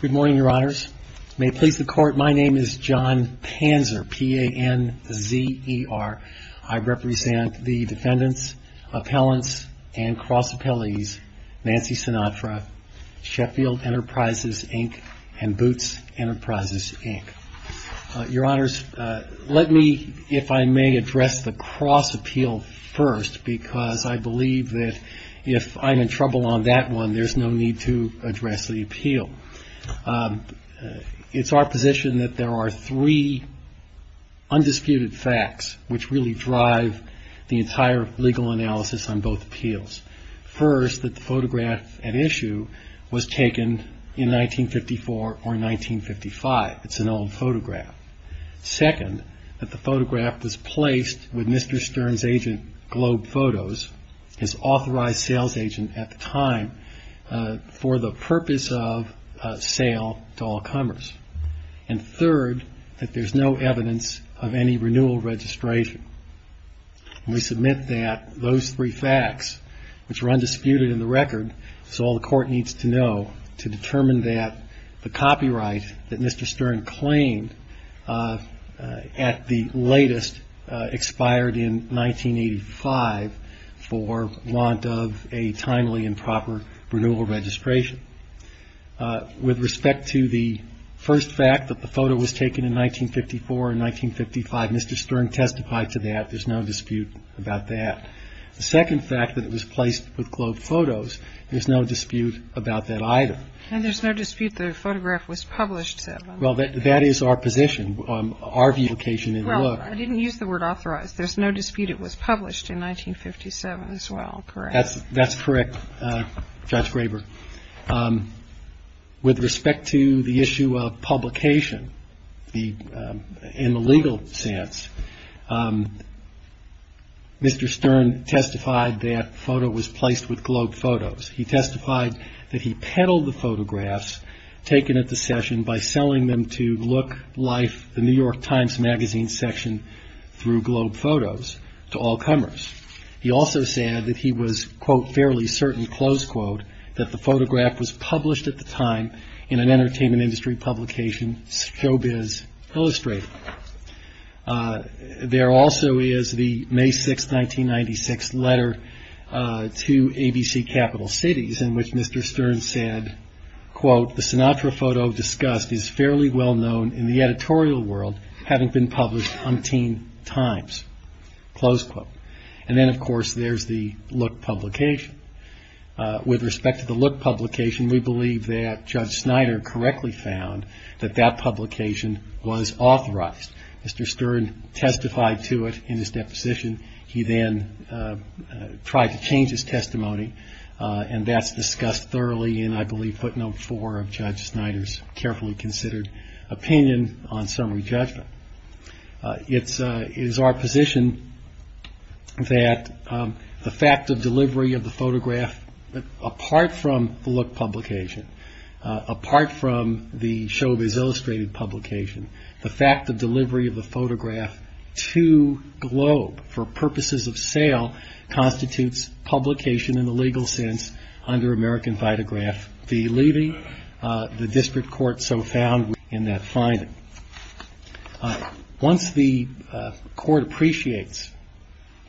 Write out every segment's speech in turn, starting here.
Good morning, Your Honors. May it please the Court, my name is John Panzer, P-A-N-Z-E-R. I represent the defendants, appellants, and cross appellees, Nancy Sinatra, Sheffield Enterprises, Inc., and Boots Enterprises, Inc. Your Honors, let me, if I may, address the cross appeal first because I believe that if I'm in trouble on that one, there's no need to address the appeal. It's our position that there are three undisputed facts which really drive the entire legal analysis on both appeals. First, that the photograph at issue was taken in 1954 or 1955. It's an old photograph. Second, that the photograph was Mr. Stern's agent, Globe Photos, his authorized sales agent at the time, for the purpose of sale to all comers. And third, that there's no evidence of any renewal registration. We submit that those three facts, which are undisputed in the record, so all the Court needs to know to determine that the copyright that Mr. Stern claimed at the latest expired in 1985 for want of a timely and proper renewal registration. With respect to the first fact that the photo was taken in 1954 and 1955, Mr. Stern testified to that. There's no dispute about that. The second fact that it was placed with Globe Photos, there's no dispute about that either. And there's no dispute that the photograph was published then? Well, that is our position, our view of the occasion in the law. Well, I didn't use the word authorized. There's no dispute it was published in 1957 as well, correct? That's correct, Judge Graber. With respect to the issue of publication in the legal sense, Mr. Stern testified that the photo was placed with Globe Photos. He testified that he peddled the photographs taken at the session by selling them to Look Life, the New York Times Magazine section through Globe Photos to all comers. He also said that he was, quote, fairly certain, close quote, that the photograph was published at the time in an entertainment industry publication, illustrated. There also is the May 6, 1996 letter to ABC Capital Cities in which Mr. Stern said, quote, the Sinatra photo discussed is fairly well known in the editorial world having been published umpteen times, close quote. And then, of course, there's the Look publication. With respect to the Look publication, we believe that Judge Snyder correctly found that that publication was authorized. Mr. Stern testified to it in his deposition. He then tried to change his testimony and that's discussed thoroughly in, I believe, footnote four of Judge Snyder's carefully considered opinion on summary judgment. It is our position that the fact of delivery of the photograph, apart from the Look publication, apart from the Chauvez Illustrated publication, the fact of delivery of the photograph to Globe for purposes of sale constitutes publication in the legal sense under American Vitagraph fee levy. The district court so found in that finding. Once the court appreciates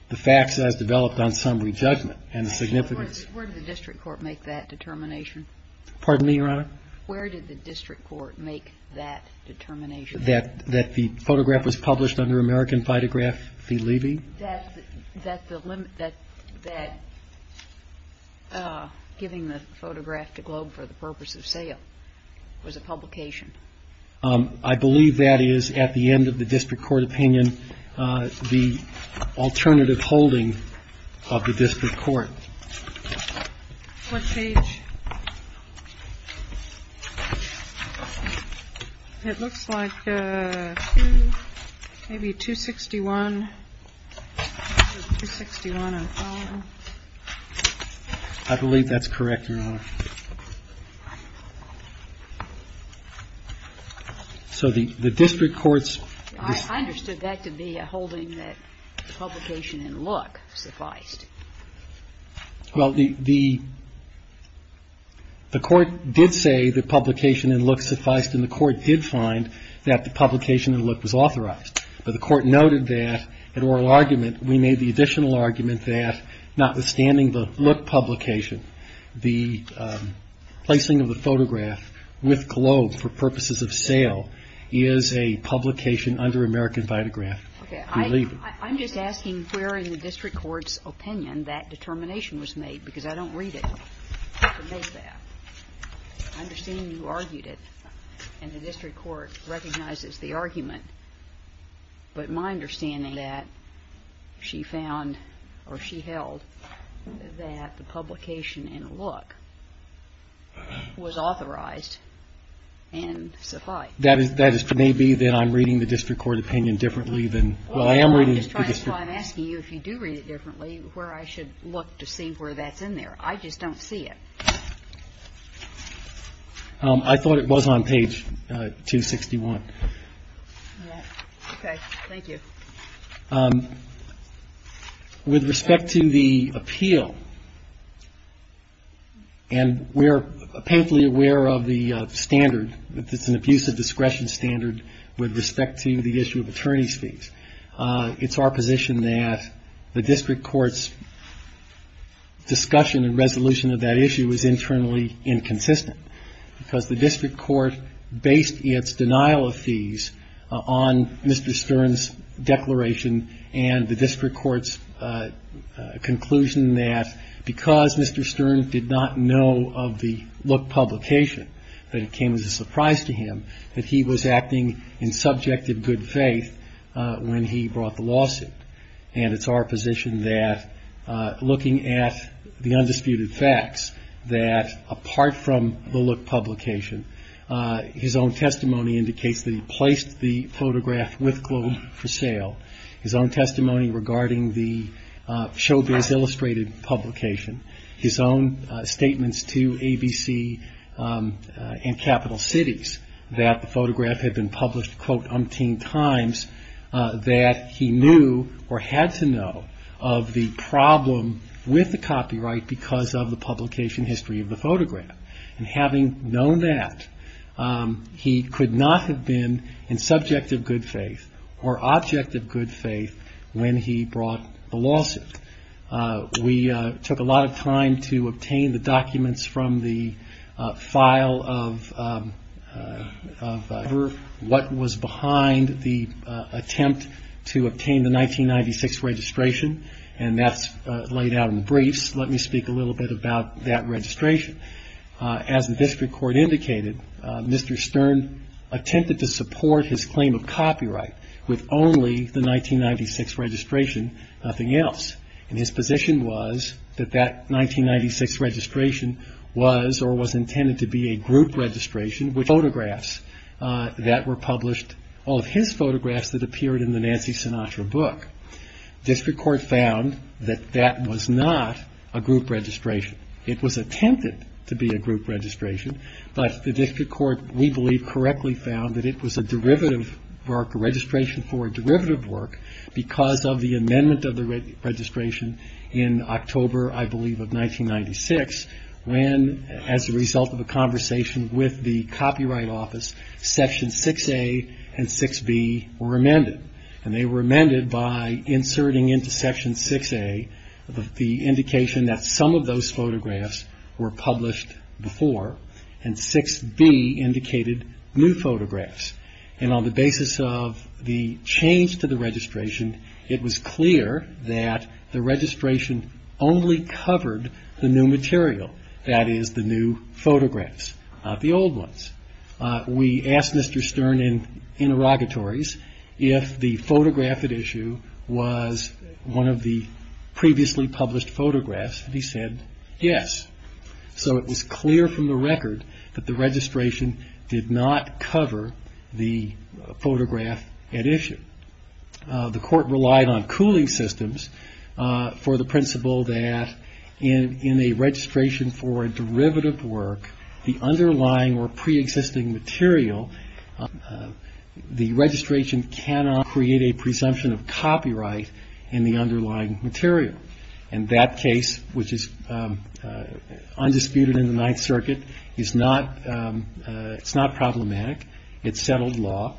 the facts as developed on summary judgment and the significance... Where did the district court make that determination? Pardon me, Your Honor? Where did the district court make that determination? That the photograph was published under American Vitagraph fee levy? That the limit, that giving the photograph to Globe for the purpose of sale was a publication. I believe that is, at the end of the district court opinion, the alternative holding of the It looks like maybe 261. I believe that's correct, Your Honor. So the district court's... I understood that to be a holding that publication in Look sufficed. Well, the court did say that publication in Look sufficed, and the court did find that the publication in Look was authorized. But the court noted that in oral argument, we made the additional argument that notwithstanding the Look publication, the placing of the photograph with Globe for purposes of sale is a publication under American that determination was made, because I don't read it to make that. I understand you argued it, and the district court recognizes the argument. But my understanding is that she found, or she held, that the publication in Look was authorized and sufficed. That is to me be that I'm reading the district court opinion differently than... I'm asking you if you do read it differently, where I should look to see where that's in there. I just don't see it. I thought it was on page 261. Okay. Thank you. With respect to the appeal, and we're painfully aware of the standard, it's an abusive discretion standard with respect to the issue of attorney's fees. It's our position that the district court's discussion and resolution of that issue is internally inconsistent, because the district court based its denial of fees on Mr. Stern's declaration, and the district court's conclusion that because Mr. Stern did not know of the Look publication, that it came as a surprise to him that he was acting in subjective good faith when he brought the lawsuit. And it's our position that, looking at the undisputed facts, that apart from the Look publication, his own testimony indicates that he placed the photograph with Globe for sale. His own testimony regarding the Showbiz Illustrated publication. His own statements to ABC and Capital Cities that the photograph had been published, quote, umpteen times, that he knew or had to know of the problem with the copyright because of the publication history of the photograph. And having known that, he could not have been in subjective good faith or objective good faith when he brought the lawsuit. We took a lot of time to obtain the documents from the file of what was behind the attempt to obtain the 1996 registration. And that's laid out in briefs. Let me speak a little bit about that registration. As the district court indicated, Mr. Stern attempted to support his claim of copyright with only the 1996 registration, nothing else. And his position was that that 1996 registration was or was intended to be a group registration with photographs that were published, all of his photographs that appeared in the Nancy Sinatra book. District court found that that was not a group registration. It was attempted to be a group registration. But the district court, we believe, correctly found that it was a derivative work, a registration for a derivative work because of the amendment of the registration in October, I believe, of 1996 when, as a result of a conversation with the Copyright Office, Section 6A and 6B were amended. And they were amended by inserting into Section 6A the indication that some of those photographs were published before, and 6B indicated new photographs. And on the basis of the change to the registration, it was clear that the registration only covered the new material, that is, the new photographs, not the old ones. We asked Mr. Stern in interrogatories if the photograph at issue was one of the previously published photographs, and he said yes. So it was clear from the record that the registration did not cover the photograph at issue. The court relied on cooling systems for the principle that in a registration for a derivative work, the underlying or preexisting material, the registration cannot create a presumption of copyright in the underlying material. And that case, which is undisputed in the Ninth Circuit, is not problematic. It's settled law.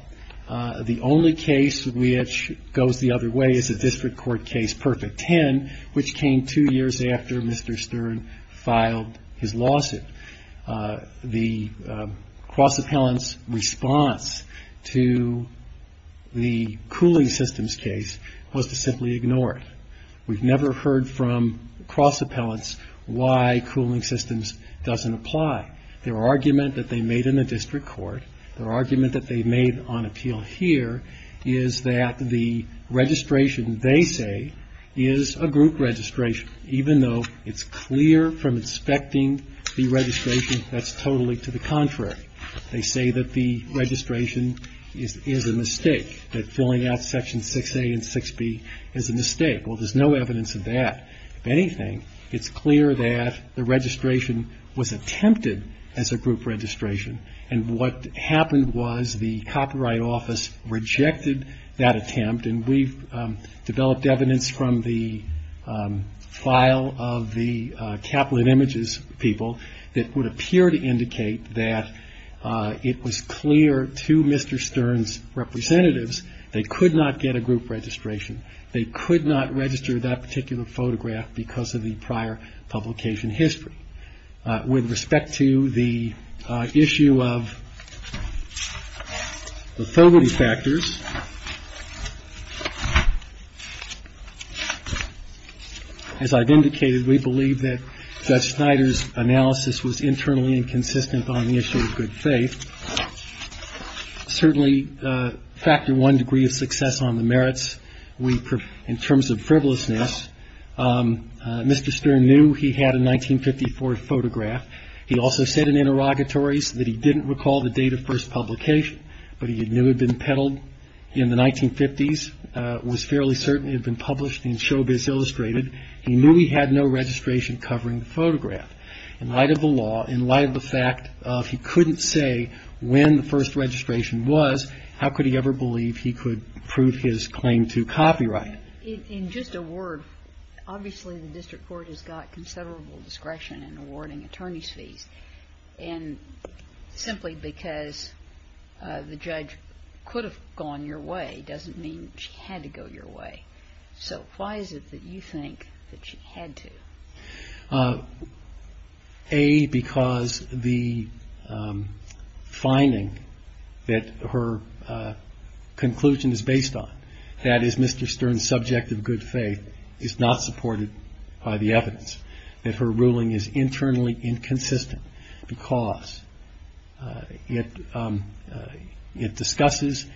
The only case which goes the other way is a district court case, Perfect Ten, which came two years after Mr. Stern filed his lawsuit. The cross-appellant's response to the cooling systems case was to simply ignore it. We've never heard from cross-appellants why cooling systems doesn't apply. Their argument that they made in the district court, their argument that they made on appeal here, is that the registration, they say, is a group registration, even though it's clear from inspecting the registration that's totally to the contrary. They say that the registration is a mistake, that filling out Section 6A and 6B is a mistake. Well, there's no evidence of that. If anything, it's clear that the registration was attempted as a group registration, and what happened was the Copyright Office rejected that attempt, and we've developed evidence from the file of the Capitol of Images people that would appear to indicate that it was clear to Mr. Stern's representatives they could not get a group registration. They could not register that particular photograph because of the prior publication history. With respect to the issue of the thirdly factors, as I've indicated, we believe that Judge Snyder's analysis was internally inconsistent on the issue of good faith. Certainly, factor one degree of success on the merits, in terms of frivolousness, Mr. Stern knew he had a 1954 photograph. He also said in interrogatories that he didn't recall the date of first publication, but he knew it had been peddled in the 1950s, was fairly certain it had been published in Showbiz Illustrated, he knew he had no registration covering the photograph. In light of the law, in light of the fact of he couldn't say when the first registration was, how could he ever believe he could prove his claim to copyright? In just a word, obviously the district court has got considerable discretion in awarding attorney's fees. And simply because the judge could have gone your way doesn't mean she had to go your way. So why is it that you think that she had to? A, because the finding that her conclusion is based on, that is Mr. Stern's subject of good faith, is not supported by the evidence. That her ruling is internally inconsistent because it discusses,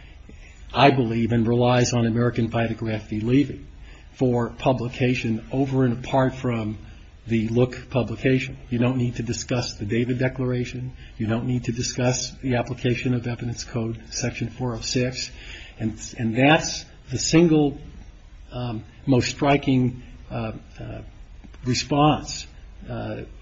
I believe, and relies on American photography leaving for publication over and apart from the Look publication. You don't need to discuss the David Declaration. You don't need to discuss the application of Evidence Code, Section 406. And that's the single most striking response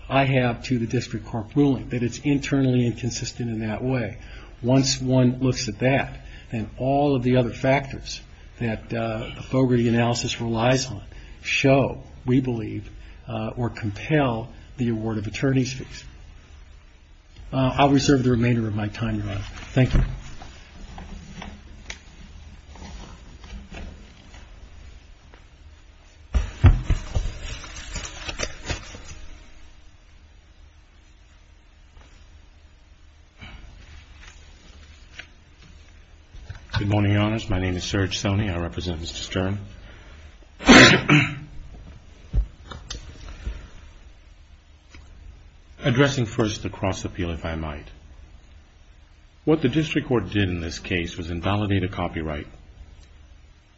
I have to the district court ruling, that it's internally inconsistent in that way. Once one looks at that, then all of the other factors that Fogarty analysis relies on show, we believe, or compel the award of attorney's fees. I'll reserve the remainder of my time, Your Honor. Thank you. Good morning, Your Honors. My name is Serge Soni. I represent Mr. Stern. Addressing first the cross appeal, if I might. What the district court did in this case was invalidate a copyright.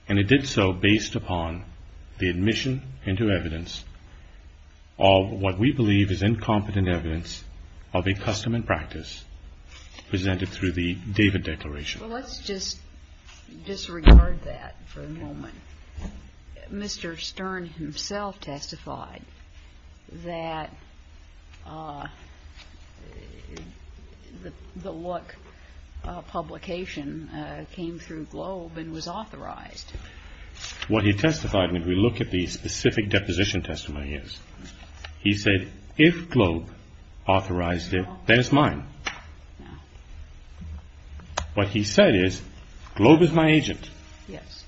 And it did so based upon the admission into evidence of what we believe is incompetent evidence of a custom and practice presented through the David Declaration. Well, let's just disregard that for a moment. Mr. Stern himself testified that the Look publication came through Globe and was authorized. What he testified, when we look at the specific deposition testimony, is he said, if Globe authorized it, then it's mine. What he said is, Globe is my agent. Yes.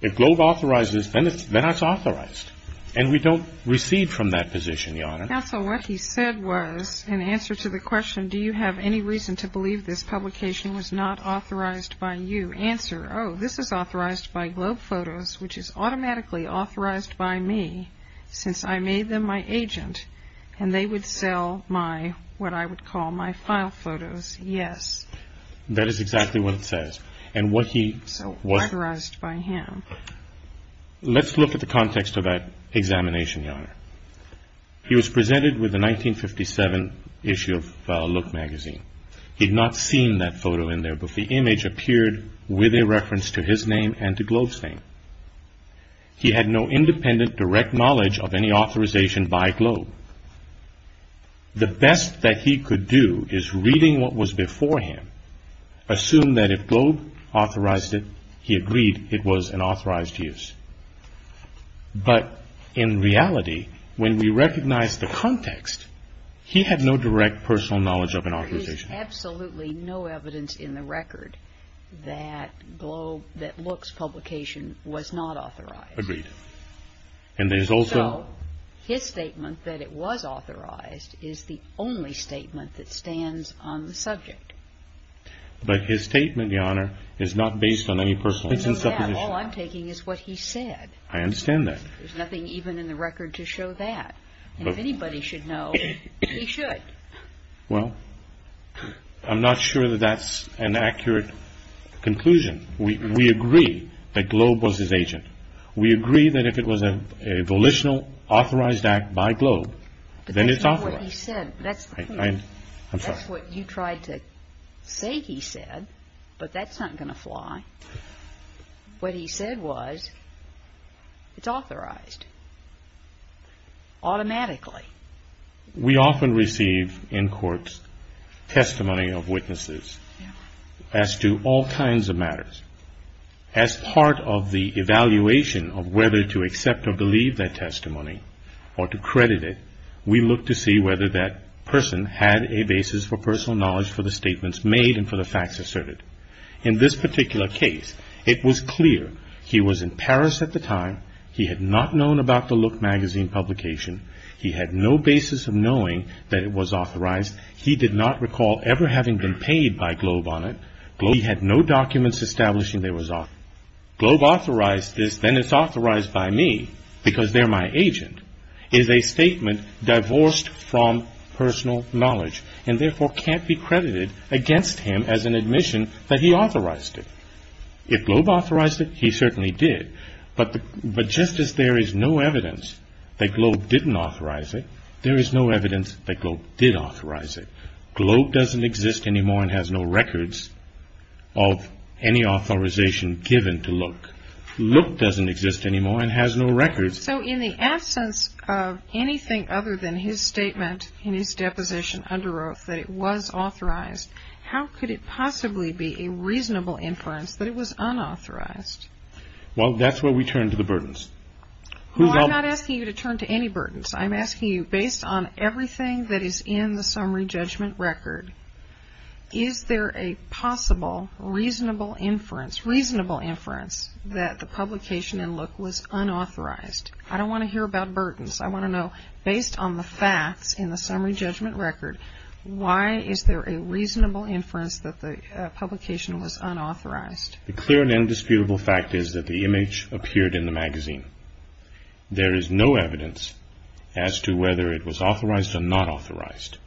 If Globe authorizes, then it's authorized. And we don't receive from that position, Your Honor. Now, so what he said was, in answer to the question, do you have any reason to believe this publication was not authorized by you? Answer, oh, this is authorized by Globe Photos, which is automatically authorized by me, since I made them my agent, and they would sell my, what I would call my file photos, yes. That is exactly what it says. And what he was authorized by him. Let's look at the context of that examination, Your Honor. He was presented with a 1957 issue of Look Magazine. He'd not seen that photo in there, but the image appeared with a reference to his name and to Globe's name. He had no independent, direct knowledge of any authorization by Globe. The best that he could do is reading what was before him. Assume that if Globe authorized it, he agreed it was an authorized use. But in reality, when we recognize the context, he had no direct personal knowledge of an authorization. There's absolutely no evidence in the record that Globe, that Look's publication was not authorized. Agreed. And there's also. His statement that it was authorized is the only statement that stands on the subject. But his statement, Your Honor, is not based on any personal. It's in supposition. All I'm taking is what he said. I understand that. There's nothing even in the record to show that. And if anybody should know, he should. Well, I'm not sure that that's an accurate conclusion. We agree that Globe was his agent. We agree that if it was a volitional, authorized act by Globe, then it's authorized. But that's not what he said. That's what you tried to say he said, but that's not going to fly. What he said was, it's authorized automatically. We often receive in courts testimony of witnesses as to all kinds of matters. As part of the evaluation of whether to accept or believe that testimony or to credit it, we look to see whether that person had a basis for personal knowledge for the statements made and for the facts asserted. In this particular case, it was clear he was in Paris at the time. He had not known about the Look Magazine publication. He had no basis of knowing that it was authorized. He did not recall ever having been paid by Globe on it. He had no documents establishing that it was authorized. Globe authorized this, then it's authorized by me because they're my agent. It is a statement divorced from personal knowledge and therefore can't be credited against him as an admission that he authorized it. If Globe authorized it, he certainly did. But just as there is no evidence that Globe didn't authorize it, there is no evidence that Globe did authorize it. Globe doesn't exist anymore and has no records of any authorization given to Look. Look doesn't exist anymore and has no records. So in the absence of anything other than his statement in his deposition under oath that it was authorized, how could it possibly be a reasonable inference that it was unauthorized? Well, that's where we turn to the burdens. I'm not asking you to turn to any burdens. I'm asking you based on everything that is in the summary judgment record, is there a possible reasonable inference that the publication in Look was unauthorized? I don't want to hear about burdens. I want to know based on the facts in the summary judgment record, why is there a reasonable inference that the publication was unauthorized? The clear and indisputable fact is that the image appeared in the magazine. There is no evidence as to whether it was authorized or not authorized.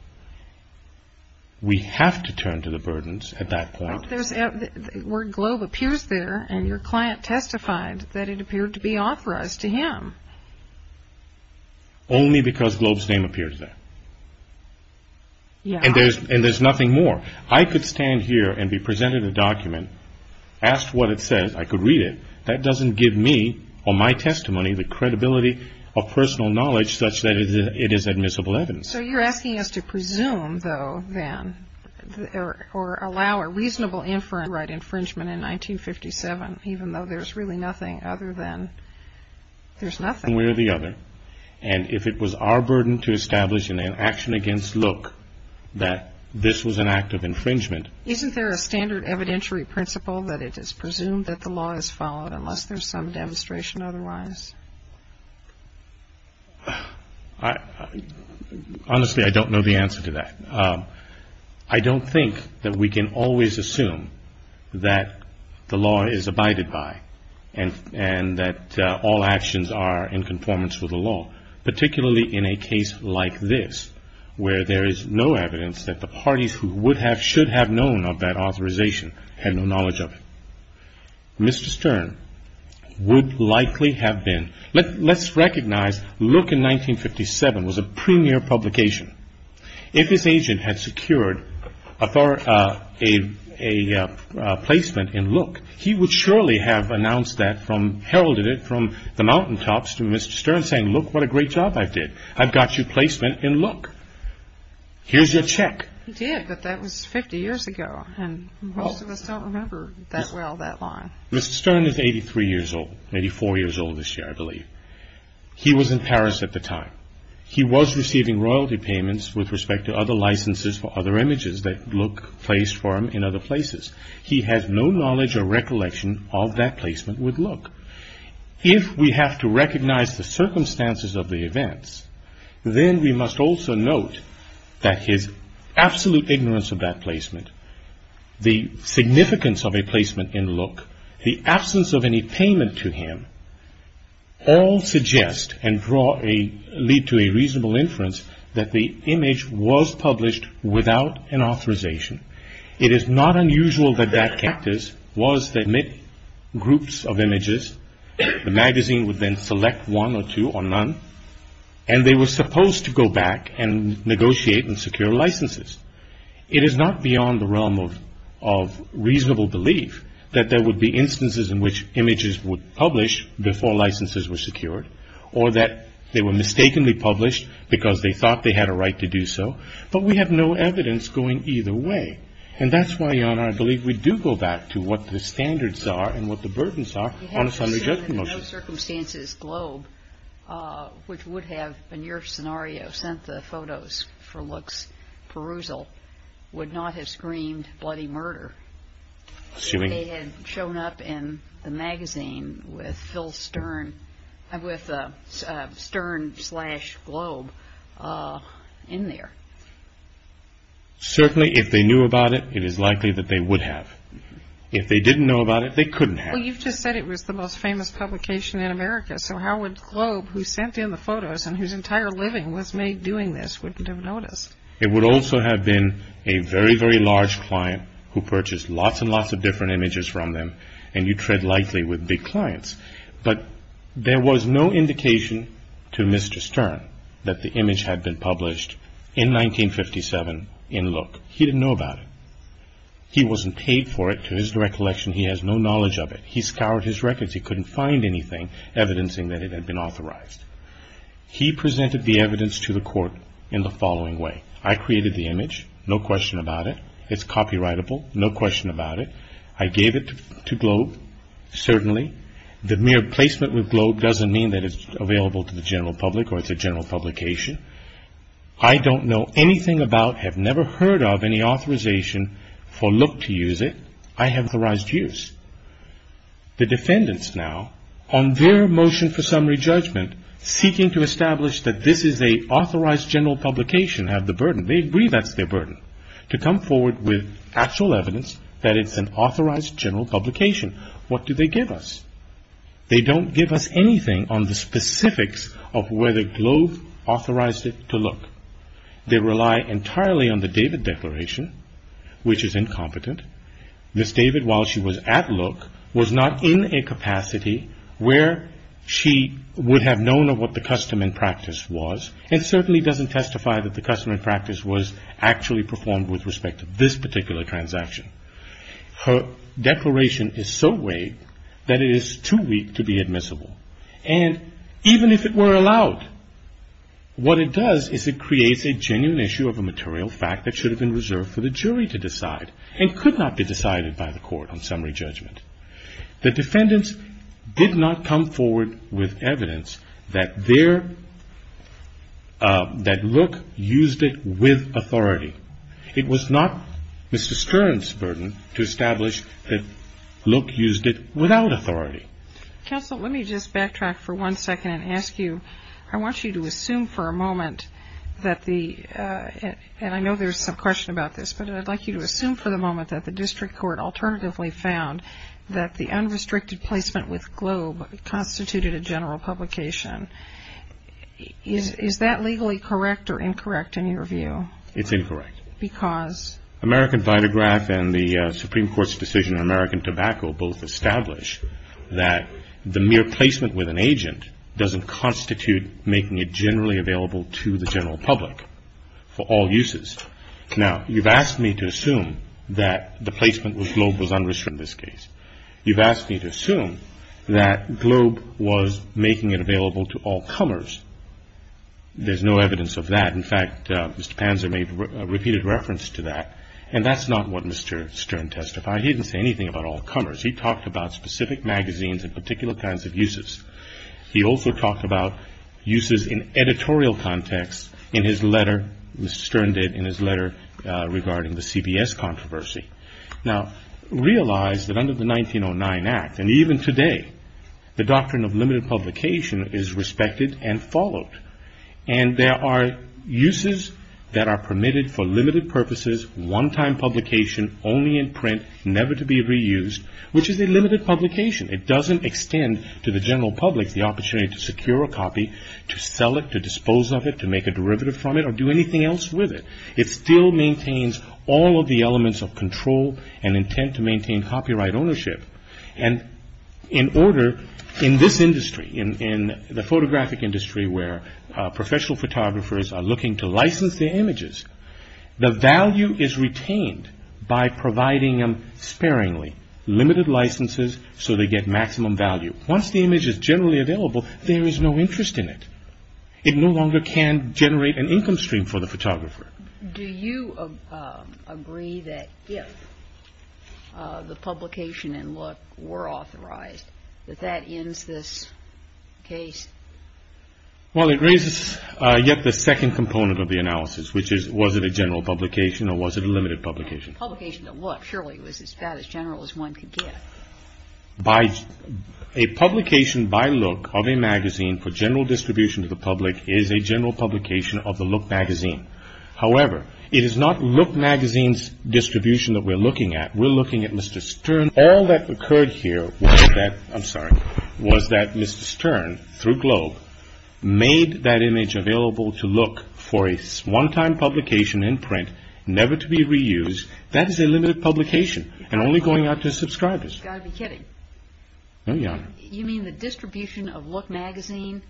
We have to turn to the burdens at that point. Where Globe appears there and your client testified that it appeared to be authorized to him. Only because Globe's name appears there. And there's nothing more. I could stand here and be presented a document, asked what it says, I could read it. That doesn't give me or my testimony the credibility of personal knowledge such that it is admissible evidence. So you're asking us to presume though then, or allow a reasonable inference, right infringement in 1957 even though there's really nothing other than, there's nothing. Somewhere or the other. And if it was our burden to establish in an action against Look that this was an act of infringement. Isn't there a standard evidentiary principle that it is presumed that the law is followed unless there's some demonstration otherwise? Honestly, I don't know the answer to that. I don't think that we can always assume that the law is abided by. And that all actions are in conformance with the law. Particularly in a case like this. Where there is no evidence that the parties who would have, should have known of that authorization had no knowledge of it. Mr. Stern would likely have been, let's recognize Look in 1957 was a premier publication. If his agent had secured a placement in Look, he would surely have announced that from, heralded it from the mountaintops to Mr. Stern saying look what a great job I did. I've got you placement in Look. Here's your check. He did but that was 50 years ago and most of us don't remember that well that line. Mr. Stern is 83 years old, 84 years old this year I believe. He was in Paris at the time. He was receiving royalty payments with respect to other licenses for other images that Look placed for him in other places. He has no knowledge or recollection of that placement with Look. If we have to recognize the circumstances of the events, then we must also note that his absolute ignorance of that placement, the significance of a placement in Look, the absence of any payment to him, all suggest and draw a, lead to a reasonable inference that the image was published without an authorization. It is not unusual that that cactus was that groups of images, the magazine would then select one or two or none and they were supposed to go back and negotiate and secure licenses. It is not beyond the realm of reasonable belief that there would be instances in which images would publish before licenses were secured or that they were mistakenly published because they thought they had a right to do so but we have no evidence going either way. And that's why, Your Honor, I believe we do go back to what the standards are and what the burdens are on a summary judgment motion. No circumstances Globe, which would have, in your scenario, sent the photos for Look's perusal, would not have screamed bloody murder if they had shown up in the magazine with Phil Stern, with Stern slash Globe in there. Certainly if they knew about it, it is likely that they would have. If they didn't know about it, they couldn't have. Well, you've just said it was the most famous publication in America, so how would Globe, who sent in the photos and whose entire living was made doing this, wouldn't have noticed? It would also have been a very, very large client who purchased lots and lots of different images from them and you tread lightly with big clients. But there was no indication to Mr. Stern that the image had been published in 1957 in Look. He didn't know about it. He wasn't paid for it to his recollection. He has no knowledge of it. He scoured his records. He couldn't find anything evidencing that it had been authorized. He presented the evidence to the court in the following way. I created the image. No question about it. It's copyrightable. No question about it. I gave it to Globe. Certainly, the mere placement with Globe doesn't mean that it's available to the general public or it's a general publication. I don't know anything about, have never heard of, any authorization for Look to use it. I have authorized use. The defendants now, on their motion for summary judgment, seeking to establish that this is an authorized general publication, have the burden. They agree that's their burden, to come forward with actual evidence that it's an authorized general publication. What do they give us? They don't give us anything on the specifics of whether Globe authorized it to Look. They rely entirely on the David Declaration, which is incompetent. Miss David, while she was at Look, was not in a capacity where she would have known of what the custom and practice was, and certainly doesn't testify that the custom and practice was actually performed with respect to this particular transaction. Her declaration is so vague that it is too weak to be admissible. And even if it were allowed, what it does is it creates a genuine issue of a material fact that should have been reserved for the jury to decide and could not be decided by the court on summary judgment. The defendants did not come forward with evidence that Look used it with authority. It was not Mr. Stern's burden to establish that Look used it without authority. Counsel, let me just backtrack for one second and ask you, I want you to assume for a moment that the, and I know there's some question about this, but I'd like you to assume for the moment that the district court alternatively found that the unrestricted placement with Globe constituted a general publication. Is that legally correct or incorrect in your view? It's incorrect. Because? American Vitagraph and the Supreme Court's decision on American Tobacco both established that the mere placement with an agent doesn't constitute making it generally available to the general public for all uses. Now, you've asked me to assume that the placement with Globe was unrestricted in this case. You've asked me to assume that Globe was making it available to all comers. There's no evidence of that. In fact, Mr. Panzer made a repeated reference to that. And that's not what Mr. Stern testified. He didn't say anything about all comers. He talked about specific magazines and particular kinds of uses. He also talked about uses in editorial context in his letter, Mr. Stern did, in his letter regarding the CBS controversy. Now, realize that under the 1909 Act, and even today, the doctrine of limited publication is respected and followed. And there are uses that are permitted for limited purposes, one-time publication, only in print, never to be reused, which is a limited publication. It doesn't extend to the general public the opportunity to secure a copy, to sell it, to dispose of it, to make a derivative from it, or do anything else with it. It still maintains all of the elements of control and intent to maintain copyright ownership. And in order, in this industry, in the photographic industry where professional photographers are looking to license their images, the value is retained by providing them sparingly, limited licenses so they get maximum value. Once the image is generally available, there is no interest in it. It no longer can generate an income stream for the photographer. Do you agree that if the publication and look were authorized, that that ends this case? Well, it raises yet the second component of the analysis, which is was it a general publication or was it a limited publication? A publication to look surely was as bad as general as one could get. A publication by look of a magazine for general distribution to the public is a general publication of the look magazine. However, it is not look magazine's distribution that we're looking at. We're looking at Mr. Stern. All that occurred here was that Mr. Stern, through Globe, made that image available to look for a one-time publication in print, never to be reused. That is a limited publication and only going out to subscribers. You've got to be kidding. No, Your Honor. You mean the distribution of look magazine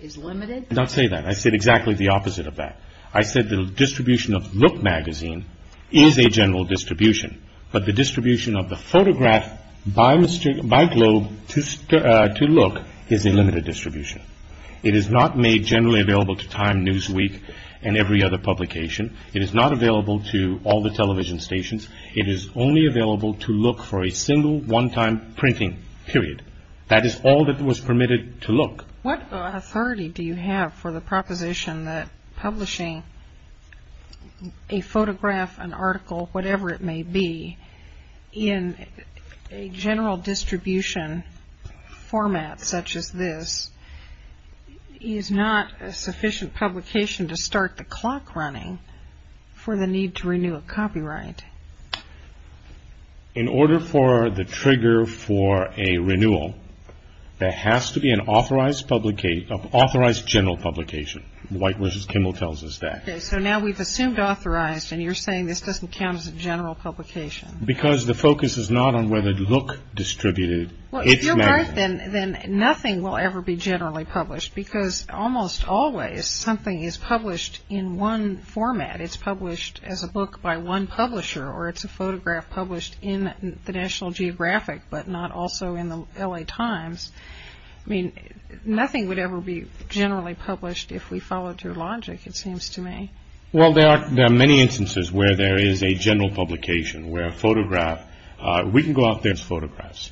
is limited? I did not say that. I said exactly the opposite of that. I said the distribution of look magazine is a general distribution, but the distribution of the photograph by Globe to look is a limited distribution. It is not made generally available to Time, Newsweek, and every other publication. It is not available to all the television stations. It is only available to look for a single one-time printing period. That is all that was permitted to look. What authority do you have for the proposition that publishing a photograph, an article, whatever it may be, in a general distribution format such as this is not a sufficient publication to start the clock running for the need to renew a copyright? In order for the trigger for a renewal, there has to be an authorized general publication. White v. Kimmel tells us that. Okay, so now we've assumed authorized, and you're saying this doesn't count as a general publication? Because the focus is not on whether look distributed. If you're right, then nothing will ever be generally published, because almost always something is published in one format. It's published as a book by one publisher, or it's a photograph published in the National Geographic, but not also in the L.A. Times. Nothing would ever be generally published if we followed your logic, it seems to me. Well, there are many instances where there is a general publication, where a photograph... We can go out there as photographs.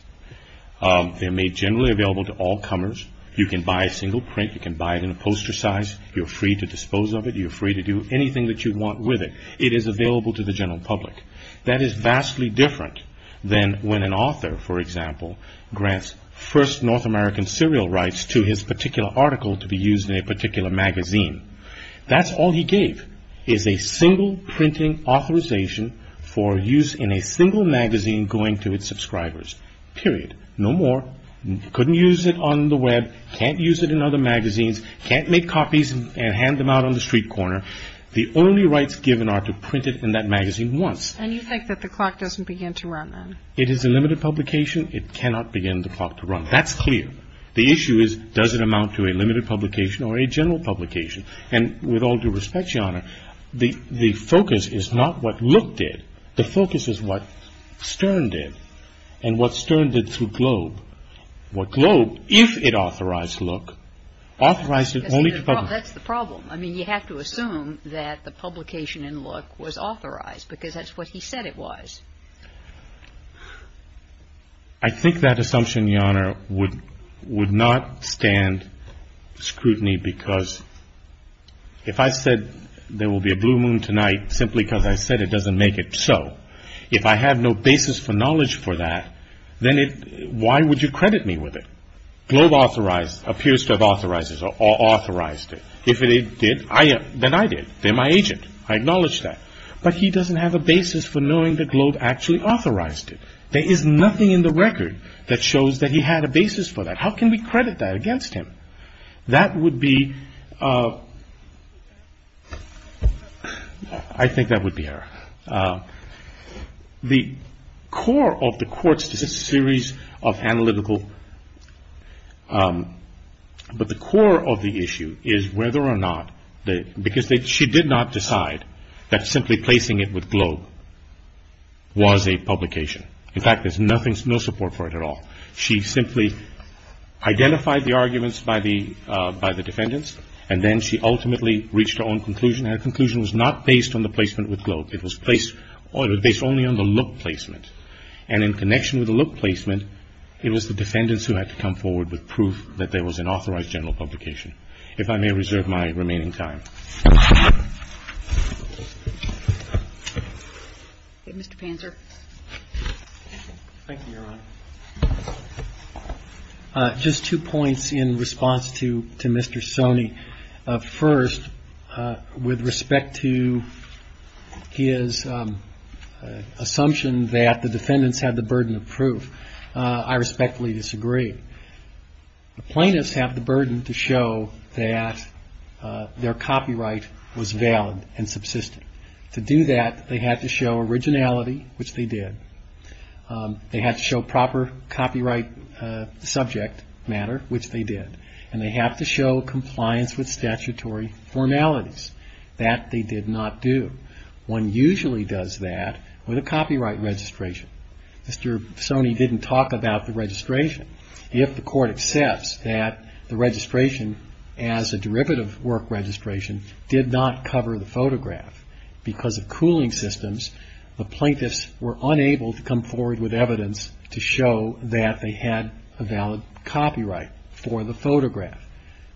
They're made generally available to all comers. You can buy a single print. You can buy it in a poster size. You're free to dispose of it. You're free to do anything that you want with it. It is available to the general public. That is vastly different than when an author, for example, grants first North American serial rights to his particular article to be used in a particular magazine. That's all he gave, is a single printing authorization for use in a single magazine going to its subscribers. Period. No more. Couldn't use it on the web. Can't use it in other magazines. Can't make copies and hand them out on the street corner. The only rights given are to print it in that magazine once. And you think that the clock doesn't begin to run, then? It is a limited publication. It cannot begin the clock to run. That's clear. The issue is, does it amount to a limited publication or a general publication? And with all due respect, Your Honor, the focus is not what Look did. The focus is what Stern did and what Stern did through Globe. What Globe, if it authorized Look, authorized it only to publish. That's the problem. I mean, you have to assume that the publication in Look was authorized because that's what he said it was. I think that assumption, Your Honor, would not stand scrutiny because if I said there will be a blue moon tonight simply because I said it doesn't make it so, if I have no basis for knowledge for that, then why would you credit me with it? Globe authorized, appears to have authorized it. If it did, then I did. They're my agent. I acknowledge that. But he doesn't have a basis for knowing that Globe actually authorized it. There is nothing in the record that shows that he had a basis for that. How can we credit that against him? That would be, I think that would be her. The core of the court's, this is a series of analytical, but the core of the issue is whether or not, because she did not decide that simply placing it with Globe was a publication. In fact, there's nothing, no support for it at all. She simply identified the arguments by the defendants, and then she ultimately reached her own conclusion. Her conclusion was not based on the placement with Globe. It was based only on the Look placement. And in connection with the Look placement, it was the defendants who had to come forward with proof that there was an authorized general publication. If I may reserve my remaining time. Okay, Mr. Panzer. Thank you, Your Honor. Just two points in response to Mr. Soni. First, with respect to his assumption that the defendants had the burden of proof, I respectfully disagree. The plaintiffs have the burden to show that their copyright was valid and subsistent. To do that, they had to show originality, which they did. They had to show proper copyright subject matter, which they did. And they have to show compliance with statutory formalities. That they did not do. One usually does that with a copyright registration. Mr. Soni didn't talk about the registration. If the court accepts that the registration, as a derivative work registration, did not cover the photograph, because of cooling systems, the plaintiffs were unable to come forward with evidence to show that they had a valid copyright for the photograph.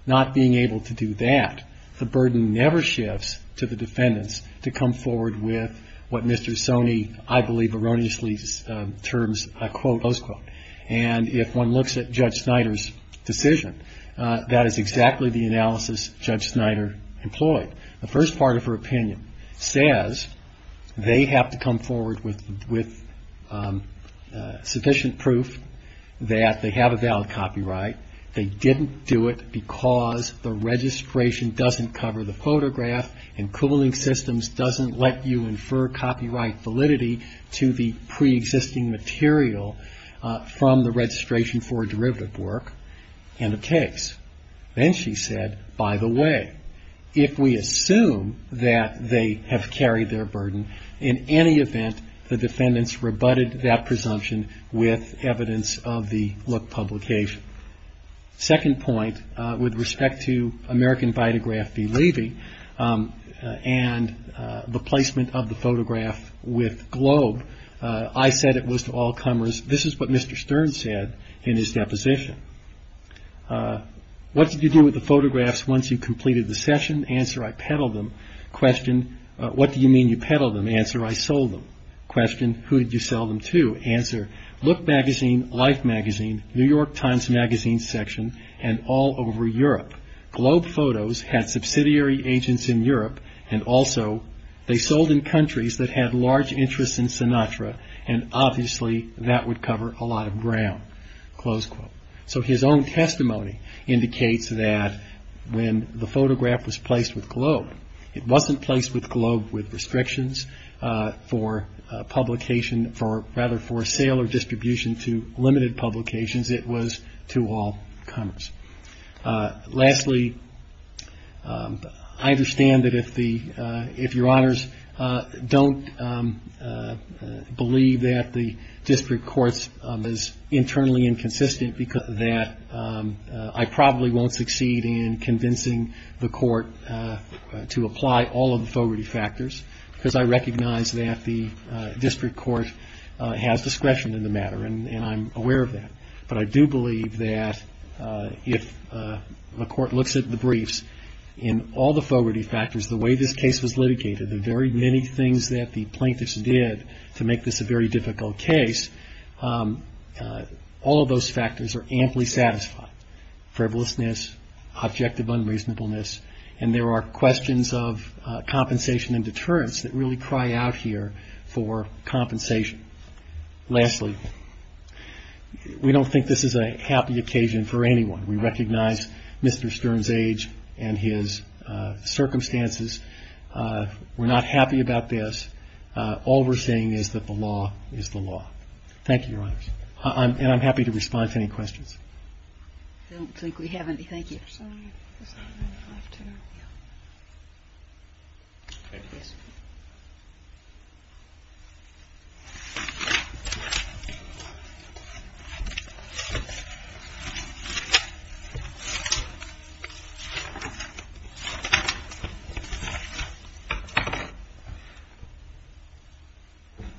Not being able to do that, the burden never shifts to the defendants to come forward with what Mr. Soni, I believe, erroneously terms a quote, close quote. And if one looks at Judge Snyder's decision, that is exactly the analysis Judge Snyder employed. The first part of her opinion says they have to come forward with sufficient proof that they have a valid copyright. They didn't do it because the registration doesn't cover the photograph and cooling systems doesn't let you infer copyright validity to the pre-existing material from the registration for a derivative work in a case. Then she said, by the way, if we assume that they have carried their burden, in any event, the defendants rebutted that presumption with evidence of the look publication. Second point, with respect to American Vitagraph v. Levy, and the placement of the photograph with Globe, I said it was to all comers. This is what Mr. Stern said in his deposition. What did you do with the photographs once you completed the session? Answer, I peddled them. Question, what do you mean you peddled them? Answer, I sold them. Question, who did you sell them to? Answer, Look Magazine, Life Magazine, New York Times Magazine section, and all over Europe. Globe Photos had subsidiary agents in Europe and also they sold in countries that had large interests in Sinatra and obviously that would cover a lot of ground. His own testimony indicates that when the photograph was placed with Globe, it wasn't placed with Globe with restrictions for sale or distribution to limited publications. It was to all comers. Lastly, I understand that if your honors don't believe that the district courts is internally inconsistent that I probably won't succeed in convincing the court to apply all of the Fogarty factors because I recognize that the district court has discretion in the matter and I'm aware of that. But I do believe that if the court looks at the briefs, in all the Fogarty factors, the way this case was litigated, the very many things that the plaintiffs did to make this a very difficult case, all of those factors are amply satisfied. Frivolousness, objective unreasonableness, and there are questions of compensation and deterrence that really cry out here for compensation. Lastly, we don't think this is a happy occasion for anyone. We recognize Mr. Stern's age and his circumstances. We're not happy about this. All we're saying is that the law is the law. Thank you, your honors. And I'm happy to respond to any questions. I don't think we have any. Thank you.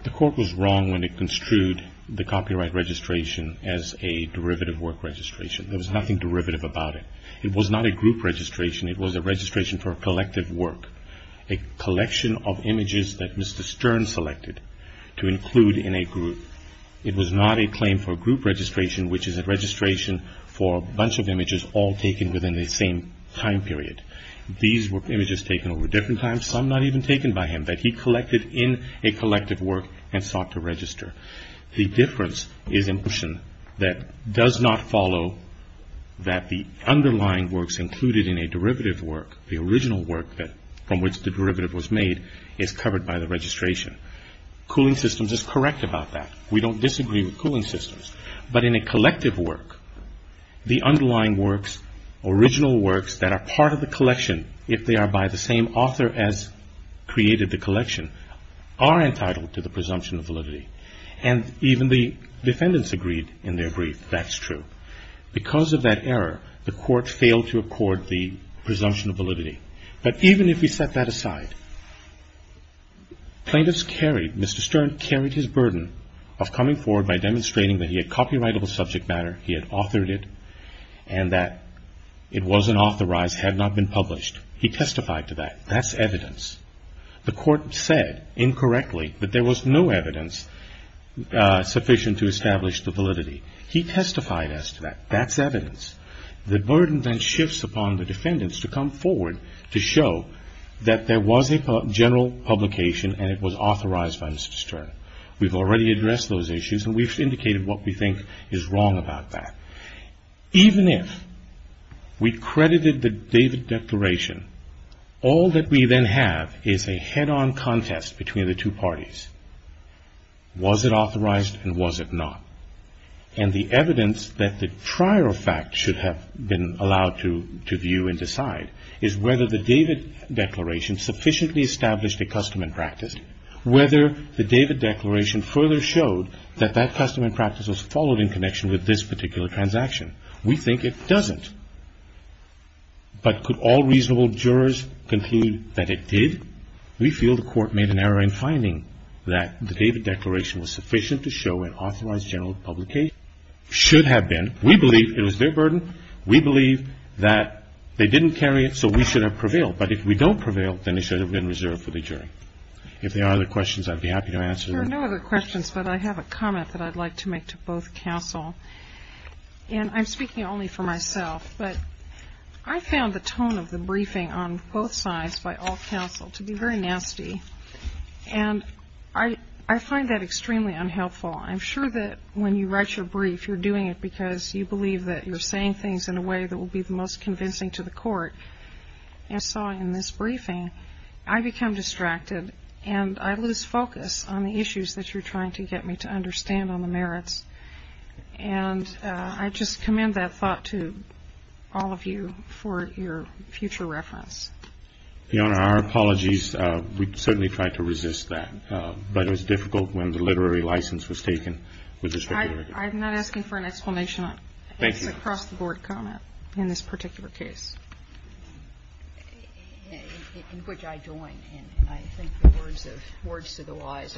The court was wrong when it construed the copyright registration as a derivative work registration. There was nothing derivative about it. It was not a group registration. It was a registration for a collective work, a collection of images that Mr. Stern selected to include in a group. It was not a claim for group registration, which is a registration for a bunch of images all taken within the same time period. These were images taken over different times, some not even taken by him, that he collected in a collective work and sought to register. The difference is that it does not follow that the underlying works included in a derivative work, the original work from which the derivative was made, is covered by the registration. Cooling Systems is correct about that. We don't disagree with Cooling Systems. But in a collective work, the underlying works, original works that are part of the collection if they are by the same author as created the collection, are entitled to the presumption of validity. And even the defendants agreed in their brief. That's true. Because of that error, the court failed to accord the presumption of validity. But even if we set that aside, plaintiffs carried, Mr. Stern carried his burden of coming forward by demonstrating that he had copyrightable subject matter, he had authored it, and that it wasn't authorized, had not been published. He testified to that. That's evidence. The court said incorrectly that there was no evidence sufficient to establish the validity. He testified as to that. That's evidence. The burden then shifts upon the defendants to come forward to show that there was a general publication and it was authorized by Mr. Stern. We've already addressed those issues, and we've indicated what we think is wrong about that. Even if we credited the David Declaration, all that we then have is a head-on contest between the two parties. Was it authorized and was it not? And the evidence that the prior fact should have been allowed to view and decide is whether the David Declaration sufficiently established a custom and practice, whether the David Declaration further showed that that custom and practice was followed in connection with this particular transaction. We think it doesn't. But could all reasonable jurors conclude that it did? We feel the court made an error in finding that the David Declaration was sufficient to show an authorized general publication. It should have been. We believe it was their burden. We believe that they didn't carry it, so we should have prevailed. But if we don't prevail, then it should have been reserved for the jury. If there are other questions, I'd be happy to answer them. No other questions, but I have a comment that I'd like to make to both counsel. And I'm speaking only for myself, but I found the tone of the briefing on both sides by all counsel to be very nasty. And I find that extremely unhelpful. I'm sure that when you write your brief, you're doing it because you believe that you're saying things in a way that will be the most convincing to the court. And so in this briefing, I become distracted and I lose focus on the issues that you're trying to get me to understand on the merits. And I just commend that thought to all of you for your future reference. Your Honor, our apologies. We certainly tried to resist that. But it was difficult when the literary license was taken. I'm not asking for an explanation. It's a cross-the-board comment in this particular case. And in which I join. And I think the words of the wise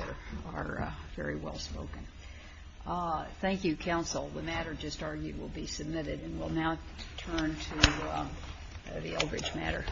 are very well spoken. Thank you, counsel. The matter just argued will be submitted. And we'll now turn to the Eldridge matter. Thank you.